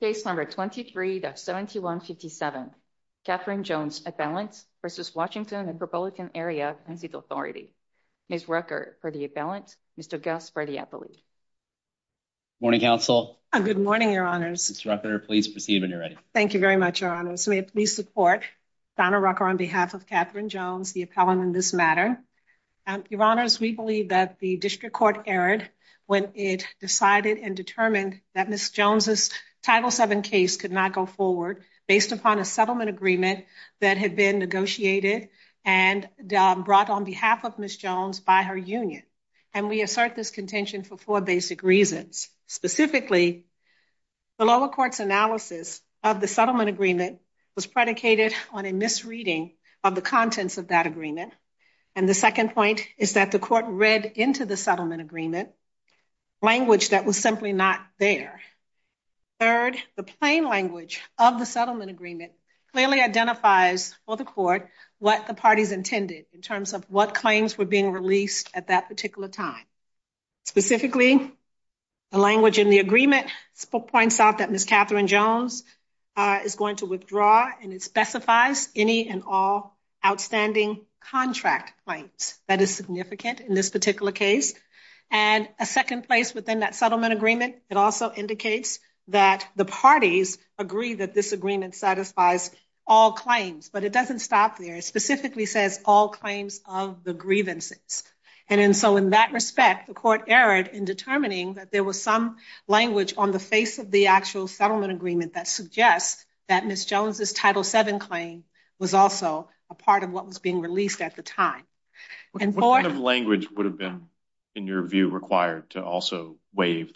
Case number 23-7157. Catherine Jones appellant versus Washington and Republican Area Pension Authority. Ms. Rucker for the appellant. Mr. Gus for the appellate. Morning, counsel. Good morning, your honors. Ms. Rucker, please proceed when you're ready. Thank you very much, your honors. May I please support Donna Rucker on behalf of Catherine Jones, the appellant in this matter. Your honors, we believe that the district court erred when it determined that Ms. Jones' Title VII case could not go forward based upon a settlement agreement that had been negotiated and brought on behalf of Ms. Jones by her union. And we assert this contention for four basic reasons. Specifically, the lower court's analysis of the settlement agreement was predicated on a misreading of the contents of that agreement. And the second point is that the court read into the settlement agreement language that was simply not there. Third, the plain language of the settlement agreement clearly identifies for the court what the parties intended in terms of what claims were being released at that particular time. Specifically, the language in the agreement points out that Ms. Catherine Jones is going to withdraw and it specifies any and all outstanding contract claims. That is significant in this particular case. And a second place within that settlement agreement, it also indicates that the parties agree that this agreement satisfies all claims. But it doesn't stop there. It specifically says all claims of the grievances. And so in that respect, the court erred in determining that there was some language on the face of the actual settlement agreement that suggests that Ms. Jones' Title VII claim was also a part of what was being released at the time. What kind of language would have been, in your view, required to also waive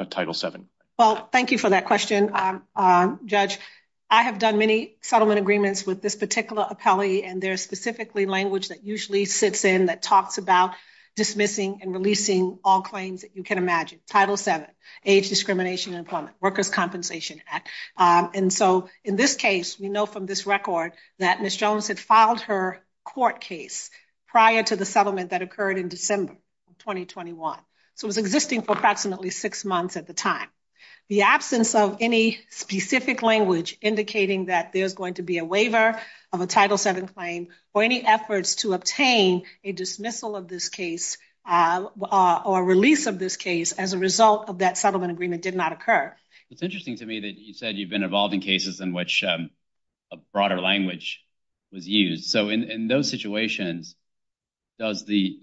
a Title VII? Well, thank you for that question, Judge. I have done many settlement agreements with this particular appellee and there's specifically language that usually sits in that talks about dismissing and releasing all claims that you can imagine. Title VII, age discrimination and employment, Workers' Compensation Act. And so in this case, we know from this record that Ms. Jones had filed her court case prior to the settlement that occurred in December 2021. So it was existing for approximately six months at the time. The absence of any specific language indicating that there's going to be a waiver of a Title VII claim or any efforts to obtain a dismissal of this case or release of this case as a result of that settlement agreement did not occur. It's interesting to me that you said you've been involved in cases in which a broader language was used. So in those situations, it's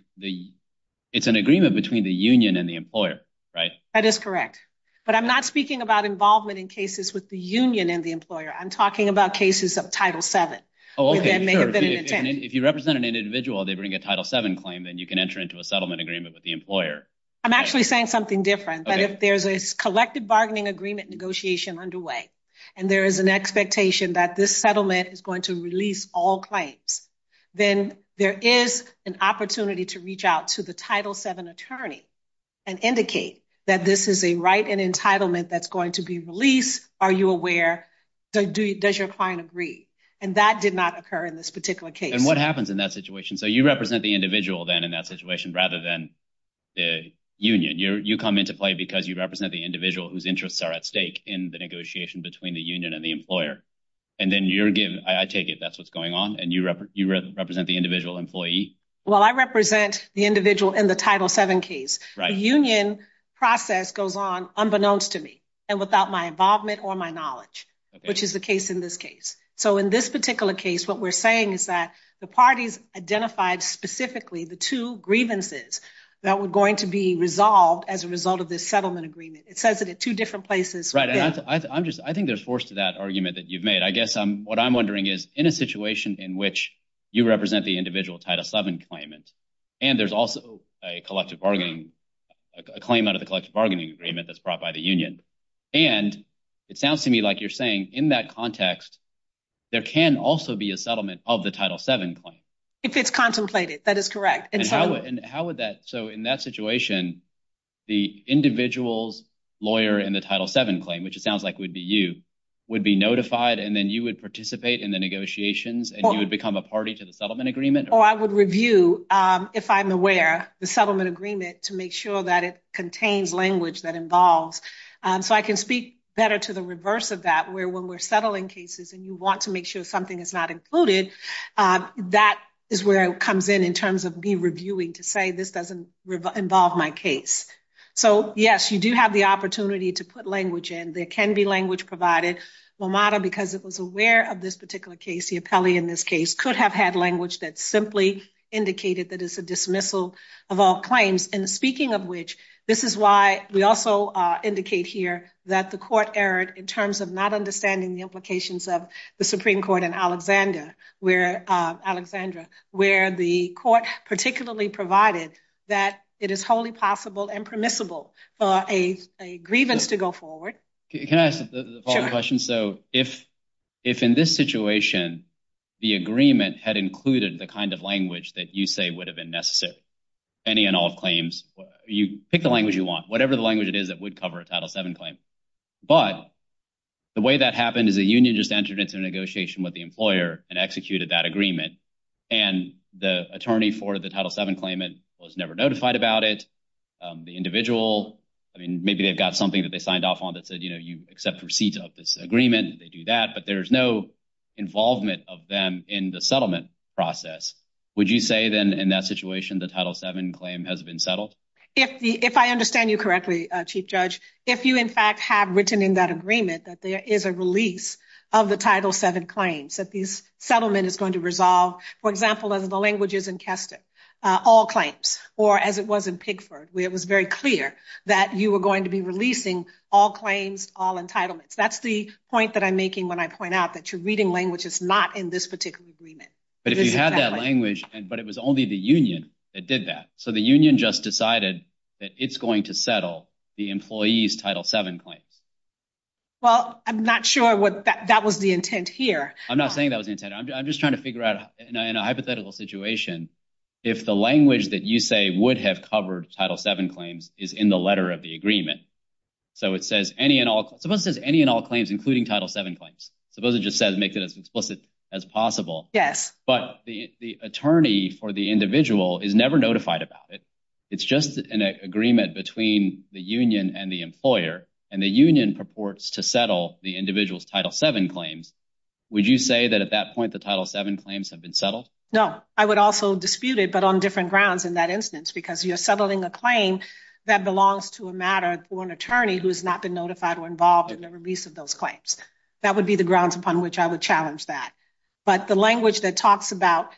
an agreement between the union and the employer, right? That is correct. But I'm not speaking about involvement in cases with the union and the employer. I'm talking about cases of Title VII. If you represent an individual, they bring a Title VII claim, then you can enter into a settlement agreement with employer. I'm actually saying something different. But if there's a collective bargaining agreement negotiation underway and there is an expectation that this settlement is going to release all claims, then there is an opportunity to reach out to the Title VII attorney and indicate that this is a right and entitlement that's going to be released. Are you aware? Does your client agree? And that did not occur in this particular case. And what happens in that situation? So you represent the union. You come into play because you represent the individual whose interests are at stake in the negotiation between the union and the employer. And then you're giving, I take it that's what's going on. And you represent the individual employee. Well, I represent the individual in the Title VII case. The union process goes on unbeknownst to me and without my involvement or my knowledge, which is the case in this case. So in this particular case, what we're saying is the parties identified specifically the two grievances that were going to be resolved as a result of this settlement agreement. It says it at two different places. Right. I think there's force to that argument that you've made. I guess what I'm wondering is in a situation in which you represent the individual Title VII claimant and there's also a collective bargaining, a claim out of the collective bargaining agreement that's brought by the union. And it sounds to me like you're saying in that context, there can also be a settlement of the Title VII claim. If it's contemplated, that is correct. And how would that, so in that situation, the individual's lawyer in the Title VII claim, which it sounds like would be you, would be notified and then you would participate in the negotiations and you would become a party to the settlement agreement? Or I would review, if I'm aware, the settlement agreement to make sure that it contains language that involves. So I can speak better to the reverse of that, where when we're settling cases and you want to make sure something is not included, that is where it comes in, in terms of me reviewing to say this doesn't involve my case. So yes, you do have the opportunity to put language in. There can be language provided. LOMADA, because it was aware of this particular case, the appellee in this case, could have had language that simply indicated that it's a dismissal of all claims. And speaking of which, this is why we also indicate here that the court erred in terms of not understanding the implications of the Supreme Court and Alexandra, where the court particularly provided that it is wholly possible and permissible for a grievance to go forward. Can I ask the following question? So if in this situation, the agreement had included the language that you say would have been necessary, any and all claims, you pick the language you want, whatever the language it is that would cover a Title VII claim. But the way that happened is the union just entered into a negotiation with the employer and executed that agreement. And the attorney for the Title VII claimant was never notified about it. The individual, I mean, maybe they've got something that they signed off on that said, you know, you accept receipts of this agreement, they do that, but there's no involvement of them in the settlement process. Would you say then in that situation, the Title VII claim has been settled? If I understand you correctly, Chief Judge, if you in fact have written in that agreement that there is a release of the Title VII claims, that this settlement is going to resolve, for example, as the language is in Kester, all claims, or as it was in Pigford, where it was very clear that you were going to be releasing all claims, all entitlements. That's the point that I'm making when I point out that you're reading language that's not in this particular agreement. But if you had that language, but it was only the union that did that. So the union just decided that it's going to settle the employee's Title VII claims. Well, I'm not sure that was the intent here. I'm not saying that was the intent. I'm just trying to figure out, in a hypothetical situation, if the language that you say would have covered Title VII claims is in the letter of the agreement. So it says any and all claims, including Title VII claims. Suppose it just says make it as explicit as possible. Yes. But the attorney for the individual is never notified about it. It's just an agreement between the union and the employer, and the union purports to settle the individual's Title VII claims. Would you say that at that point, the Title VII claims have been settled? No. I would also dispute it, but on different grounds in that instance, because you're settling a claim that belongs to a matter for an attorney who has not been notified or involved in the release of those claims. That would be the grounds upon which I would challenge that. But the language that talks about,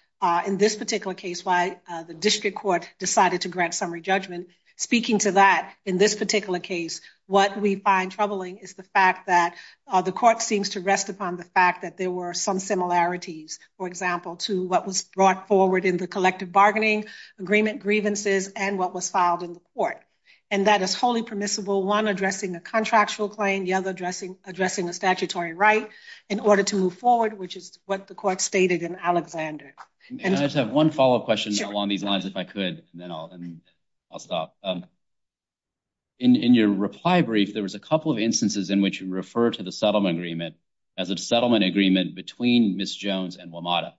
in this particular case, why the district court decided to grant summary judgment, speaking to that, in this particular case, what we find troubling is the fact that the court seems to rest upon the fact that there were some similarities, for example, to what was brought forward in the collective bargaining agreement grievances and what was filed in the court. And that is wholly permissible, one addressing a contractual claim, the other addressing a statutory right in order to move forward, which is what the court stated in Alexander. And I just have one follow-up question along these lines, if I could, and then I'll stop. In your reply brief, there was a couple of instances in which you refer to the settlement agreement as a settlement agreement between Ms. Jones and WMATA.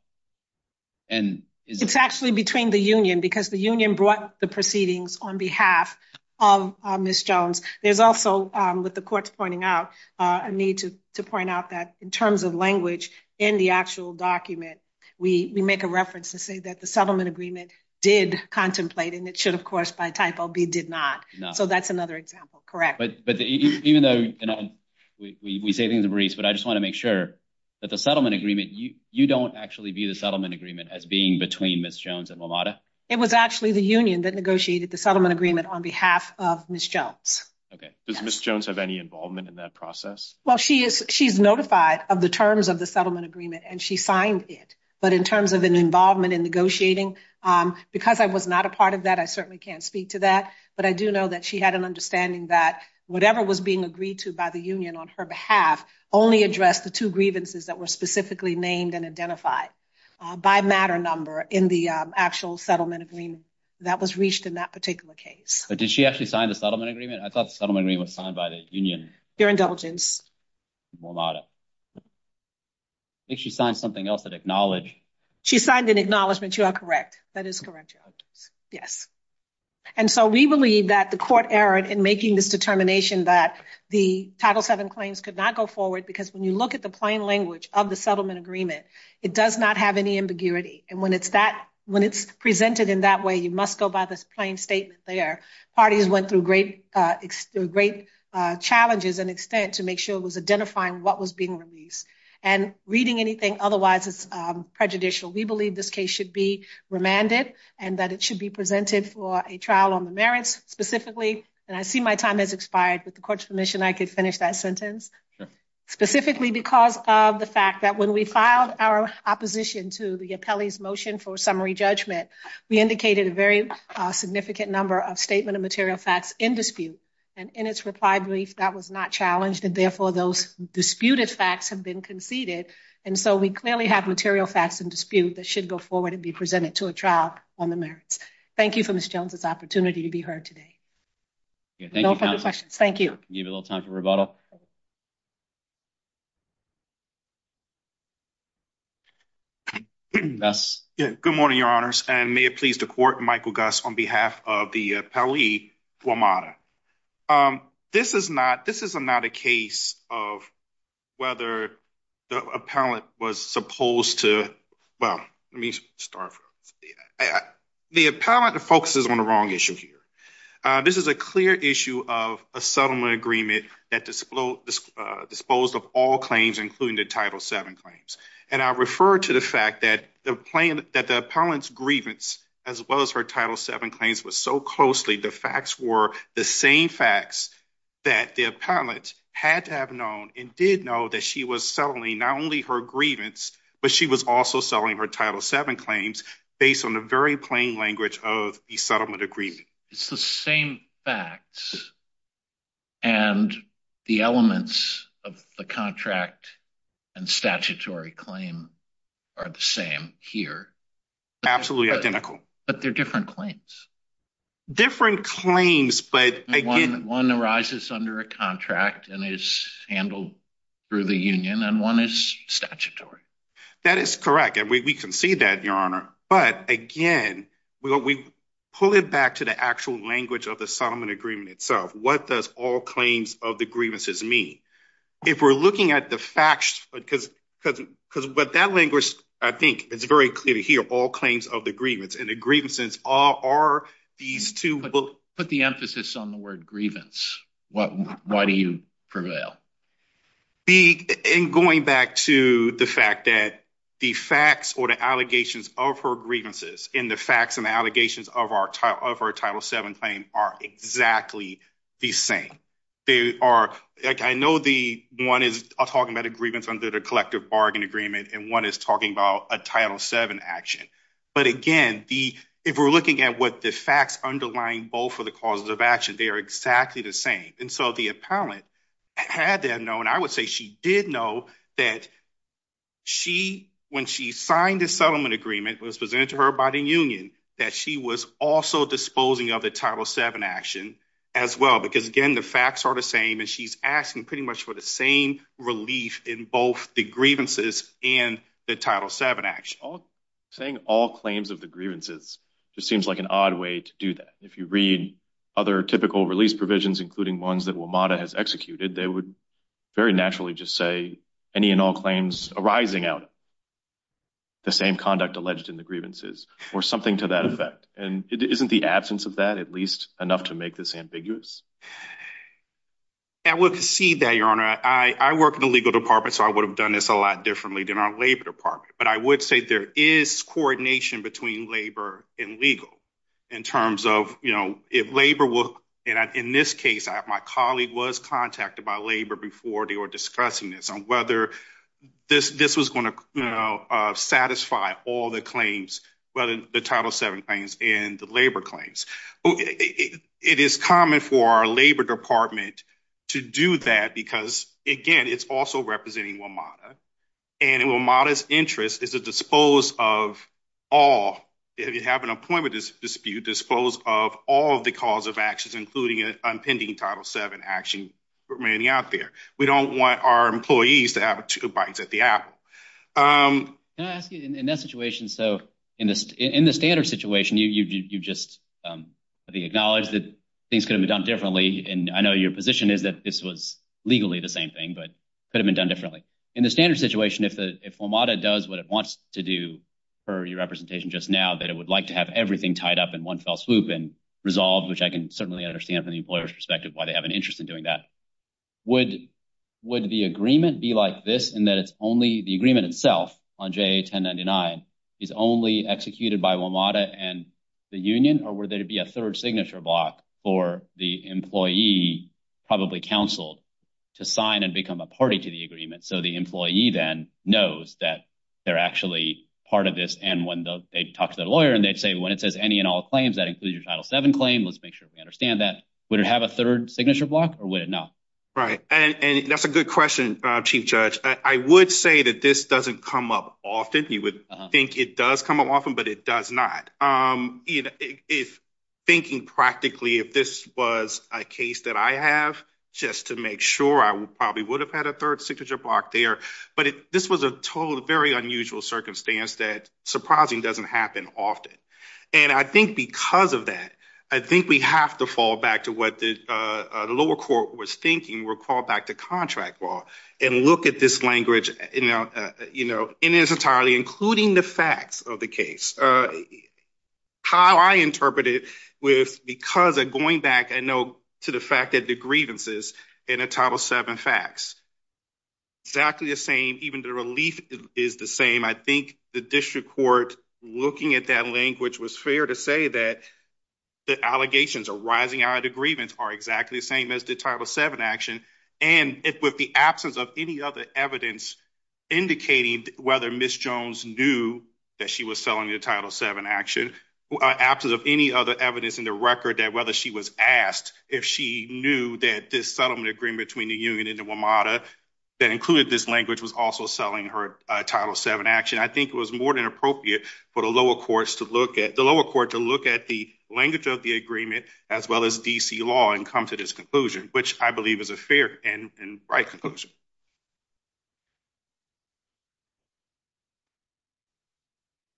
It's actually between the union, because the union brought the proceedings on behalf of Ms. Jones. There's also, with the courts pointing out, a need to point out that in terms of language in the actual document, we make a reference to say that the settlement agreement did contemplate, and it should, of course, by typo, be did not. So that's another example, correct. But even though, you know, we say things to Maurice, but I just want to make sure that the settlement agreement, you don't actually view the settlement agreement as being between Ms. Jones and WMATA? It was actually the union that negotiated the settlement agreement on behalf of Ms. Jones. Okay. Does Ms. Jones have any involvement in that process? Well, she is, she's notified of the terms of the settlement agreement, and she signed it. But in terms of an involvement in negotiating, because I was not a part of that, I certainly can't speak to that, but I do know that she had an understanding that whatever was being agreed to by the union on her behalf only addressed the two grievances that were specifically named and identified by matter number in the actual settlement agreement that was reached in that particular case. But did she actually sign the settlement agreement? I thought the settlement agreement was signed by the union. Your indulgence. WMATA. I think she signed something else that acknowledged. She signed an acknowledgement. You are correct. That is correct. Yes. And so we believe that the court errored in making this determination that the Title VII claims could not go forward because when you look at the plain language of the settlement agreement, it does not have any ambiguity. And when it's presented in that way, you must go by this plain statement there. Parties went through great challenges and extent to make sure it was identifying what was being released and reading anything. Otherwise, it's prejudicial. We believe this case should be remanded and that it should be presented for a trial on the merits specifically. And I see my time has expired with the court's permission. I could finish that sentence specifically because of the fact that when we filed our opposition to the appellee's motion for summary judgment, we indicated a very significant number of statement of material facts in dispute. And in its reply brief, that was not challenged, and therefore those disputed facts have been conceded. And so we clearly have material facts in dispute that should go forward and be presented to a trial on the merits. Thank you for Ms. Jones's opportunity to be heard today. No further questions. Thank you. You have a little time for rebuttal. Yes. Good morning, Your Honors. And may it please the court, Michael Gus, on behalf of the Guamata. This is not a case of whether the appellant was supposed to, well, let me start. The appellant focuses on the wrong issue here. This is a clear issue of a settlement agreement that disposed of all claims, including the Title VII claims. And I refer to the fact that the appellant's grievance, as well as her Title VII claims, was so closely, the facts were the same facts that the appellant had to have known and did know that she was settling not only her grievance, but she was also selling her Title VII claims based on the very plain language of the settlement agreement. It's the same facts, and the elements of the contract and statutory claim are the same here. Absolutely identical. But they're different claims. Different claims, but again. One arises under a contract and is handled through the union, and one is statutory. That is correct. And we can see that, Your Honor. But again, we pull it back to the actual language of the settlement agreement itself. What does all claims of the grievances mean? If we're looking at the facts, because what that language, I think it's very clear here, all claims of the grievance, and the grievances are these two. Put the emphasis on the word grievance. Why do you prevail? In going back to the fact that the facts or the allegations of her grievances, and the facts and allegations of her Title VII claim are exactly the same. I know one is talking about a grievance under the collective bargain agreement, and one is talking about a Title VII action. But again, if we're looking at what the facts underlying both of the causes of action, they are exactly the same. And so the appellant had to have known, I would say she did know, that when she signed the settlement agreement that was presented to her by the union, that she was also disposing of the Title VII action as well. Because again, the facts are the same, and she's asking pretty much for the same relief in both the grievances and the Title VII action. Saying all claims of the grievances just seems like an odd way to do that. If you read other typical release provisions, including ones that WMATA has executed, they would very naturally just say any and all claims arising out of the same conduct alleged in the grievances, or something to that effect. And isn't the absence of that at least enough to make this ambiguous? I would concede that, Your Honor. I work in the legal department, so I would have done this a lot differently than our labor department. But I would say there is coordination between labor and legal in terms of, you know, if labor will, and in this case, my colleague was contacted by labor before they were discussing this on whether this was going to, you know, satisfy all the claims, whether the Title VII claims and the labor claims. It is common for our labor department to do that because, again, it's also representing WMATA. And WMATA's interest is to dispose of all, if you have an appointment dispute, dispose of all of the cause of actions, including unpending Title VII action remaining out there. We don't want our employees to have two bites at the apple. Can I ask you, in that situation, so in this, in the standard situation, you just acknowledged that things could have been done differently, and I know your position is that this was legally the same thing, but could have been done differently. In the standard situation, if WMATA does what it wants to do for your representation just now, that it would like to have everything tied up in one fell swoop and resolved, which I can certainly understand from the employer's perspective why they have an interest in doing that, would the agreement be like this in that it's only the agreement itself on JA-1099 is only executed by WMATA and the union, or would there be a third signature block for the employee, probably counseled, to sign and become a party to the agreement, so the employee then knows that they're actually part of this, and when they talk to their lawyer, and they'd say, when it says any and all claims, that includes your Title VII claim, let's make sure we understand that. Would it have a third signature block, or would it not? Right, and that's a good question, Chief Judge. I would say that this doesn't come up often. You would think it does come up often, but it does not. You know, thinking practically, if this was a case that I have, just to make sure, I probably would have had a third signature block there, but this was a total, very unusual circumstance that surprisingly doesn't happen often, and I think because of that, I think we have to fall back to what the lower court was thinking, recall back to contract law, and look at this language, you know, and it's entirely including the facts of the case. How I interpret it, because going back, I know to the fact that the grievances in the Title VII facts, exactly the same, even the relief is the same. I think the district court, looking at that language, was fair to say that the allegations arising out of the grievance are exactly the same as the Title VII action, and with the absence of any other evidence indicating whether Ms. Jones knew that she was selling the Title VII action, absence of any other evidence in the record that whether she was asked if she knew that this settlement agreement between the union and the WMATA that included this language was also selling her Title VII action, I think it was more than appropriate for the lower courts to look at the language of the agreement, as well as D.C. law, and come to this conclusion, which I believe is a fair and right conclusion.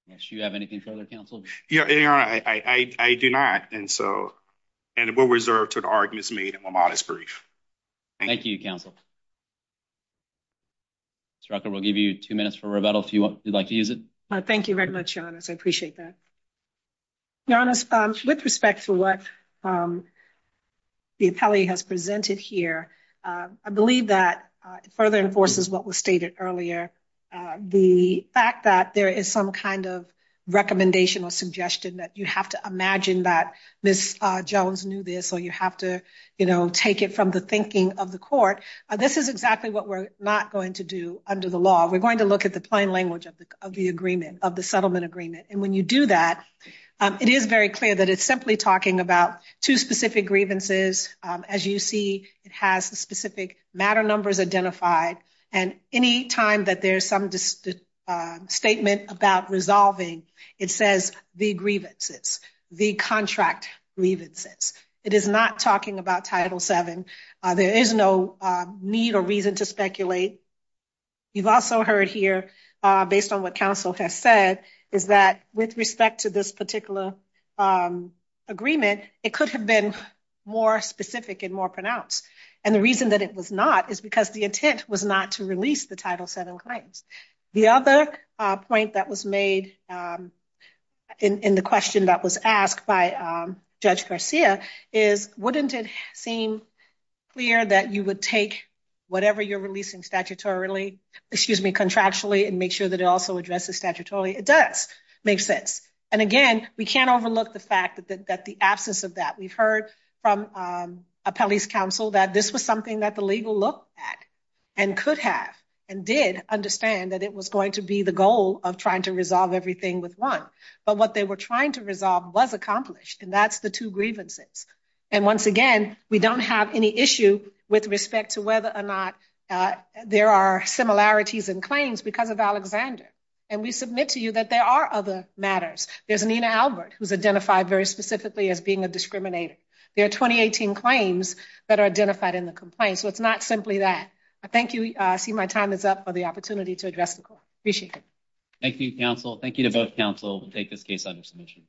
Yes, you have anything further, counsel? Yeah, I do not, and so, and we'll reserve to the arguments made in my modest brief. Thank you, counsel. Ms. Rucker, we'll give you two minutes for rebuttal if you'd like to use it. Thank you very much, Janice. I appreciate that. Janice, with respect to what the appellee has presented here, I believe that it further enforces what was stated earlier. The fact that there is some kind of recommendation or suggestion that you have to imagine that Ms. Jones knew this, or you have to, you know, take it from the thinking of the court, this is exactly what we're not going to do under the law. We're going to look at the language of the settlement agreement, and when you do that, it is very clear that it's simply talking about two specific grievances. As you see, it has the specific matter numbers identified, and any time that there's some statement about resolving, it says the grievances, the contract grievances. It is not talking about Title VII. There is no need or reason to speculate. You've also heard here, based on what counsel has said, is that with respect to this particular agreement, it could have been more specific and more pronounced, and the reason that it was not is because the intent was not to release the Title VII claims. The other point that was made in the question that was asked by Judge Garcia is, wouldn't it clear that you would take whatever you're releasing statutorily, excuse me, contractually, and make sure that it also addresses statutorily? It does make sense, and again, we can't overlook the fact that the absence of that. We've heard from a police counsel that this was something that the legal looked at, and could have, and did understand that it was going to be the goal of trying to resolve everything with one, but what they were trying to resolve was accomplished, and that's the two grievances, and once again, we don't have any issue with respect to whether or not there are similarities in claims because of Alexander, and we submit to you that there are other matters. There's Nina Albert, who's identified very specifically as being a discriminator. There are 2018 claims that are identified in the complaint, so it's not simply that. I thank you. I see my time is up for the opportunity to address the court. Appreciate it. Thank you, counsel. Thank you to both counsel. We'll take this case under submission.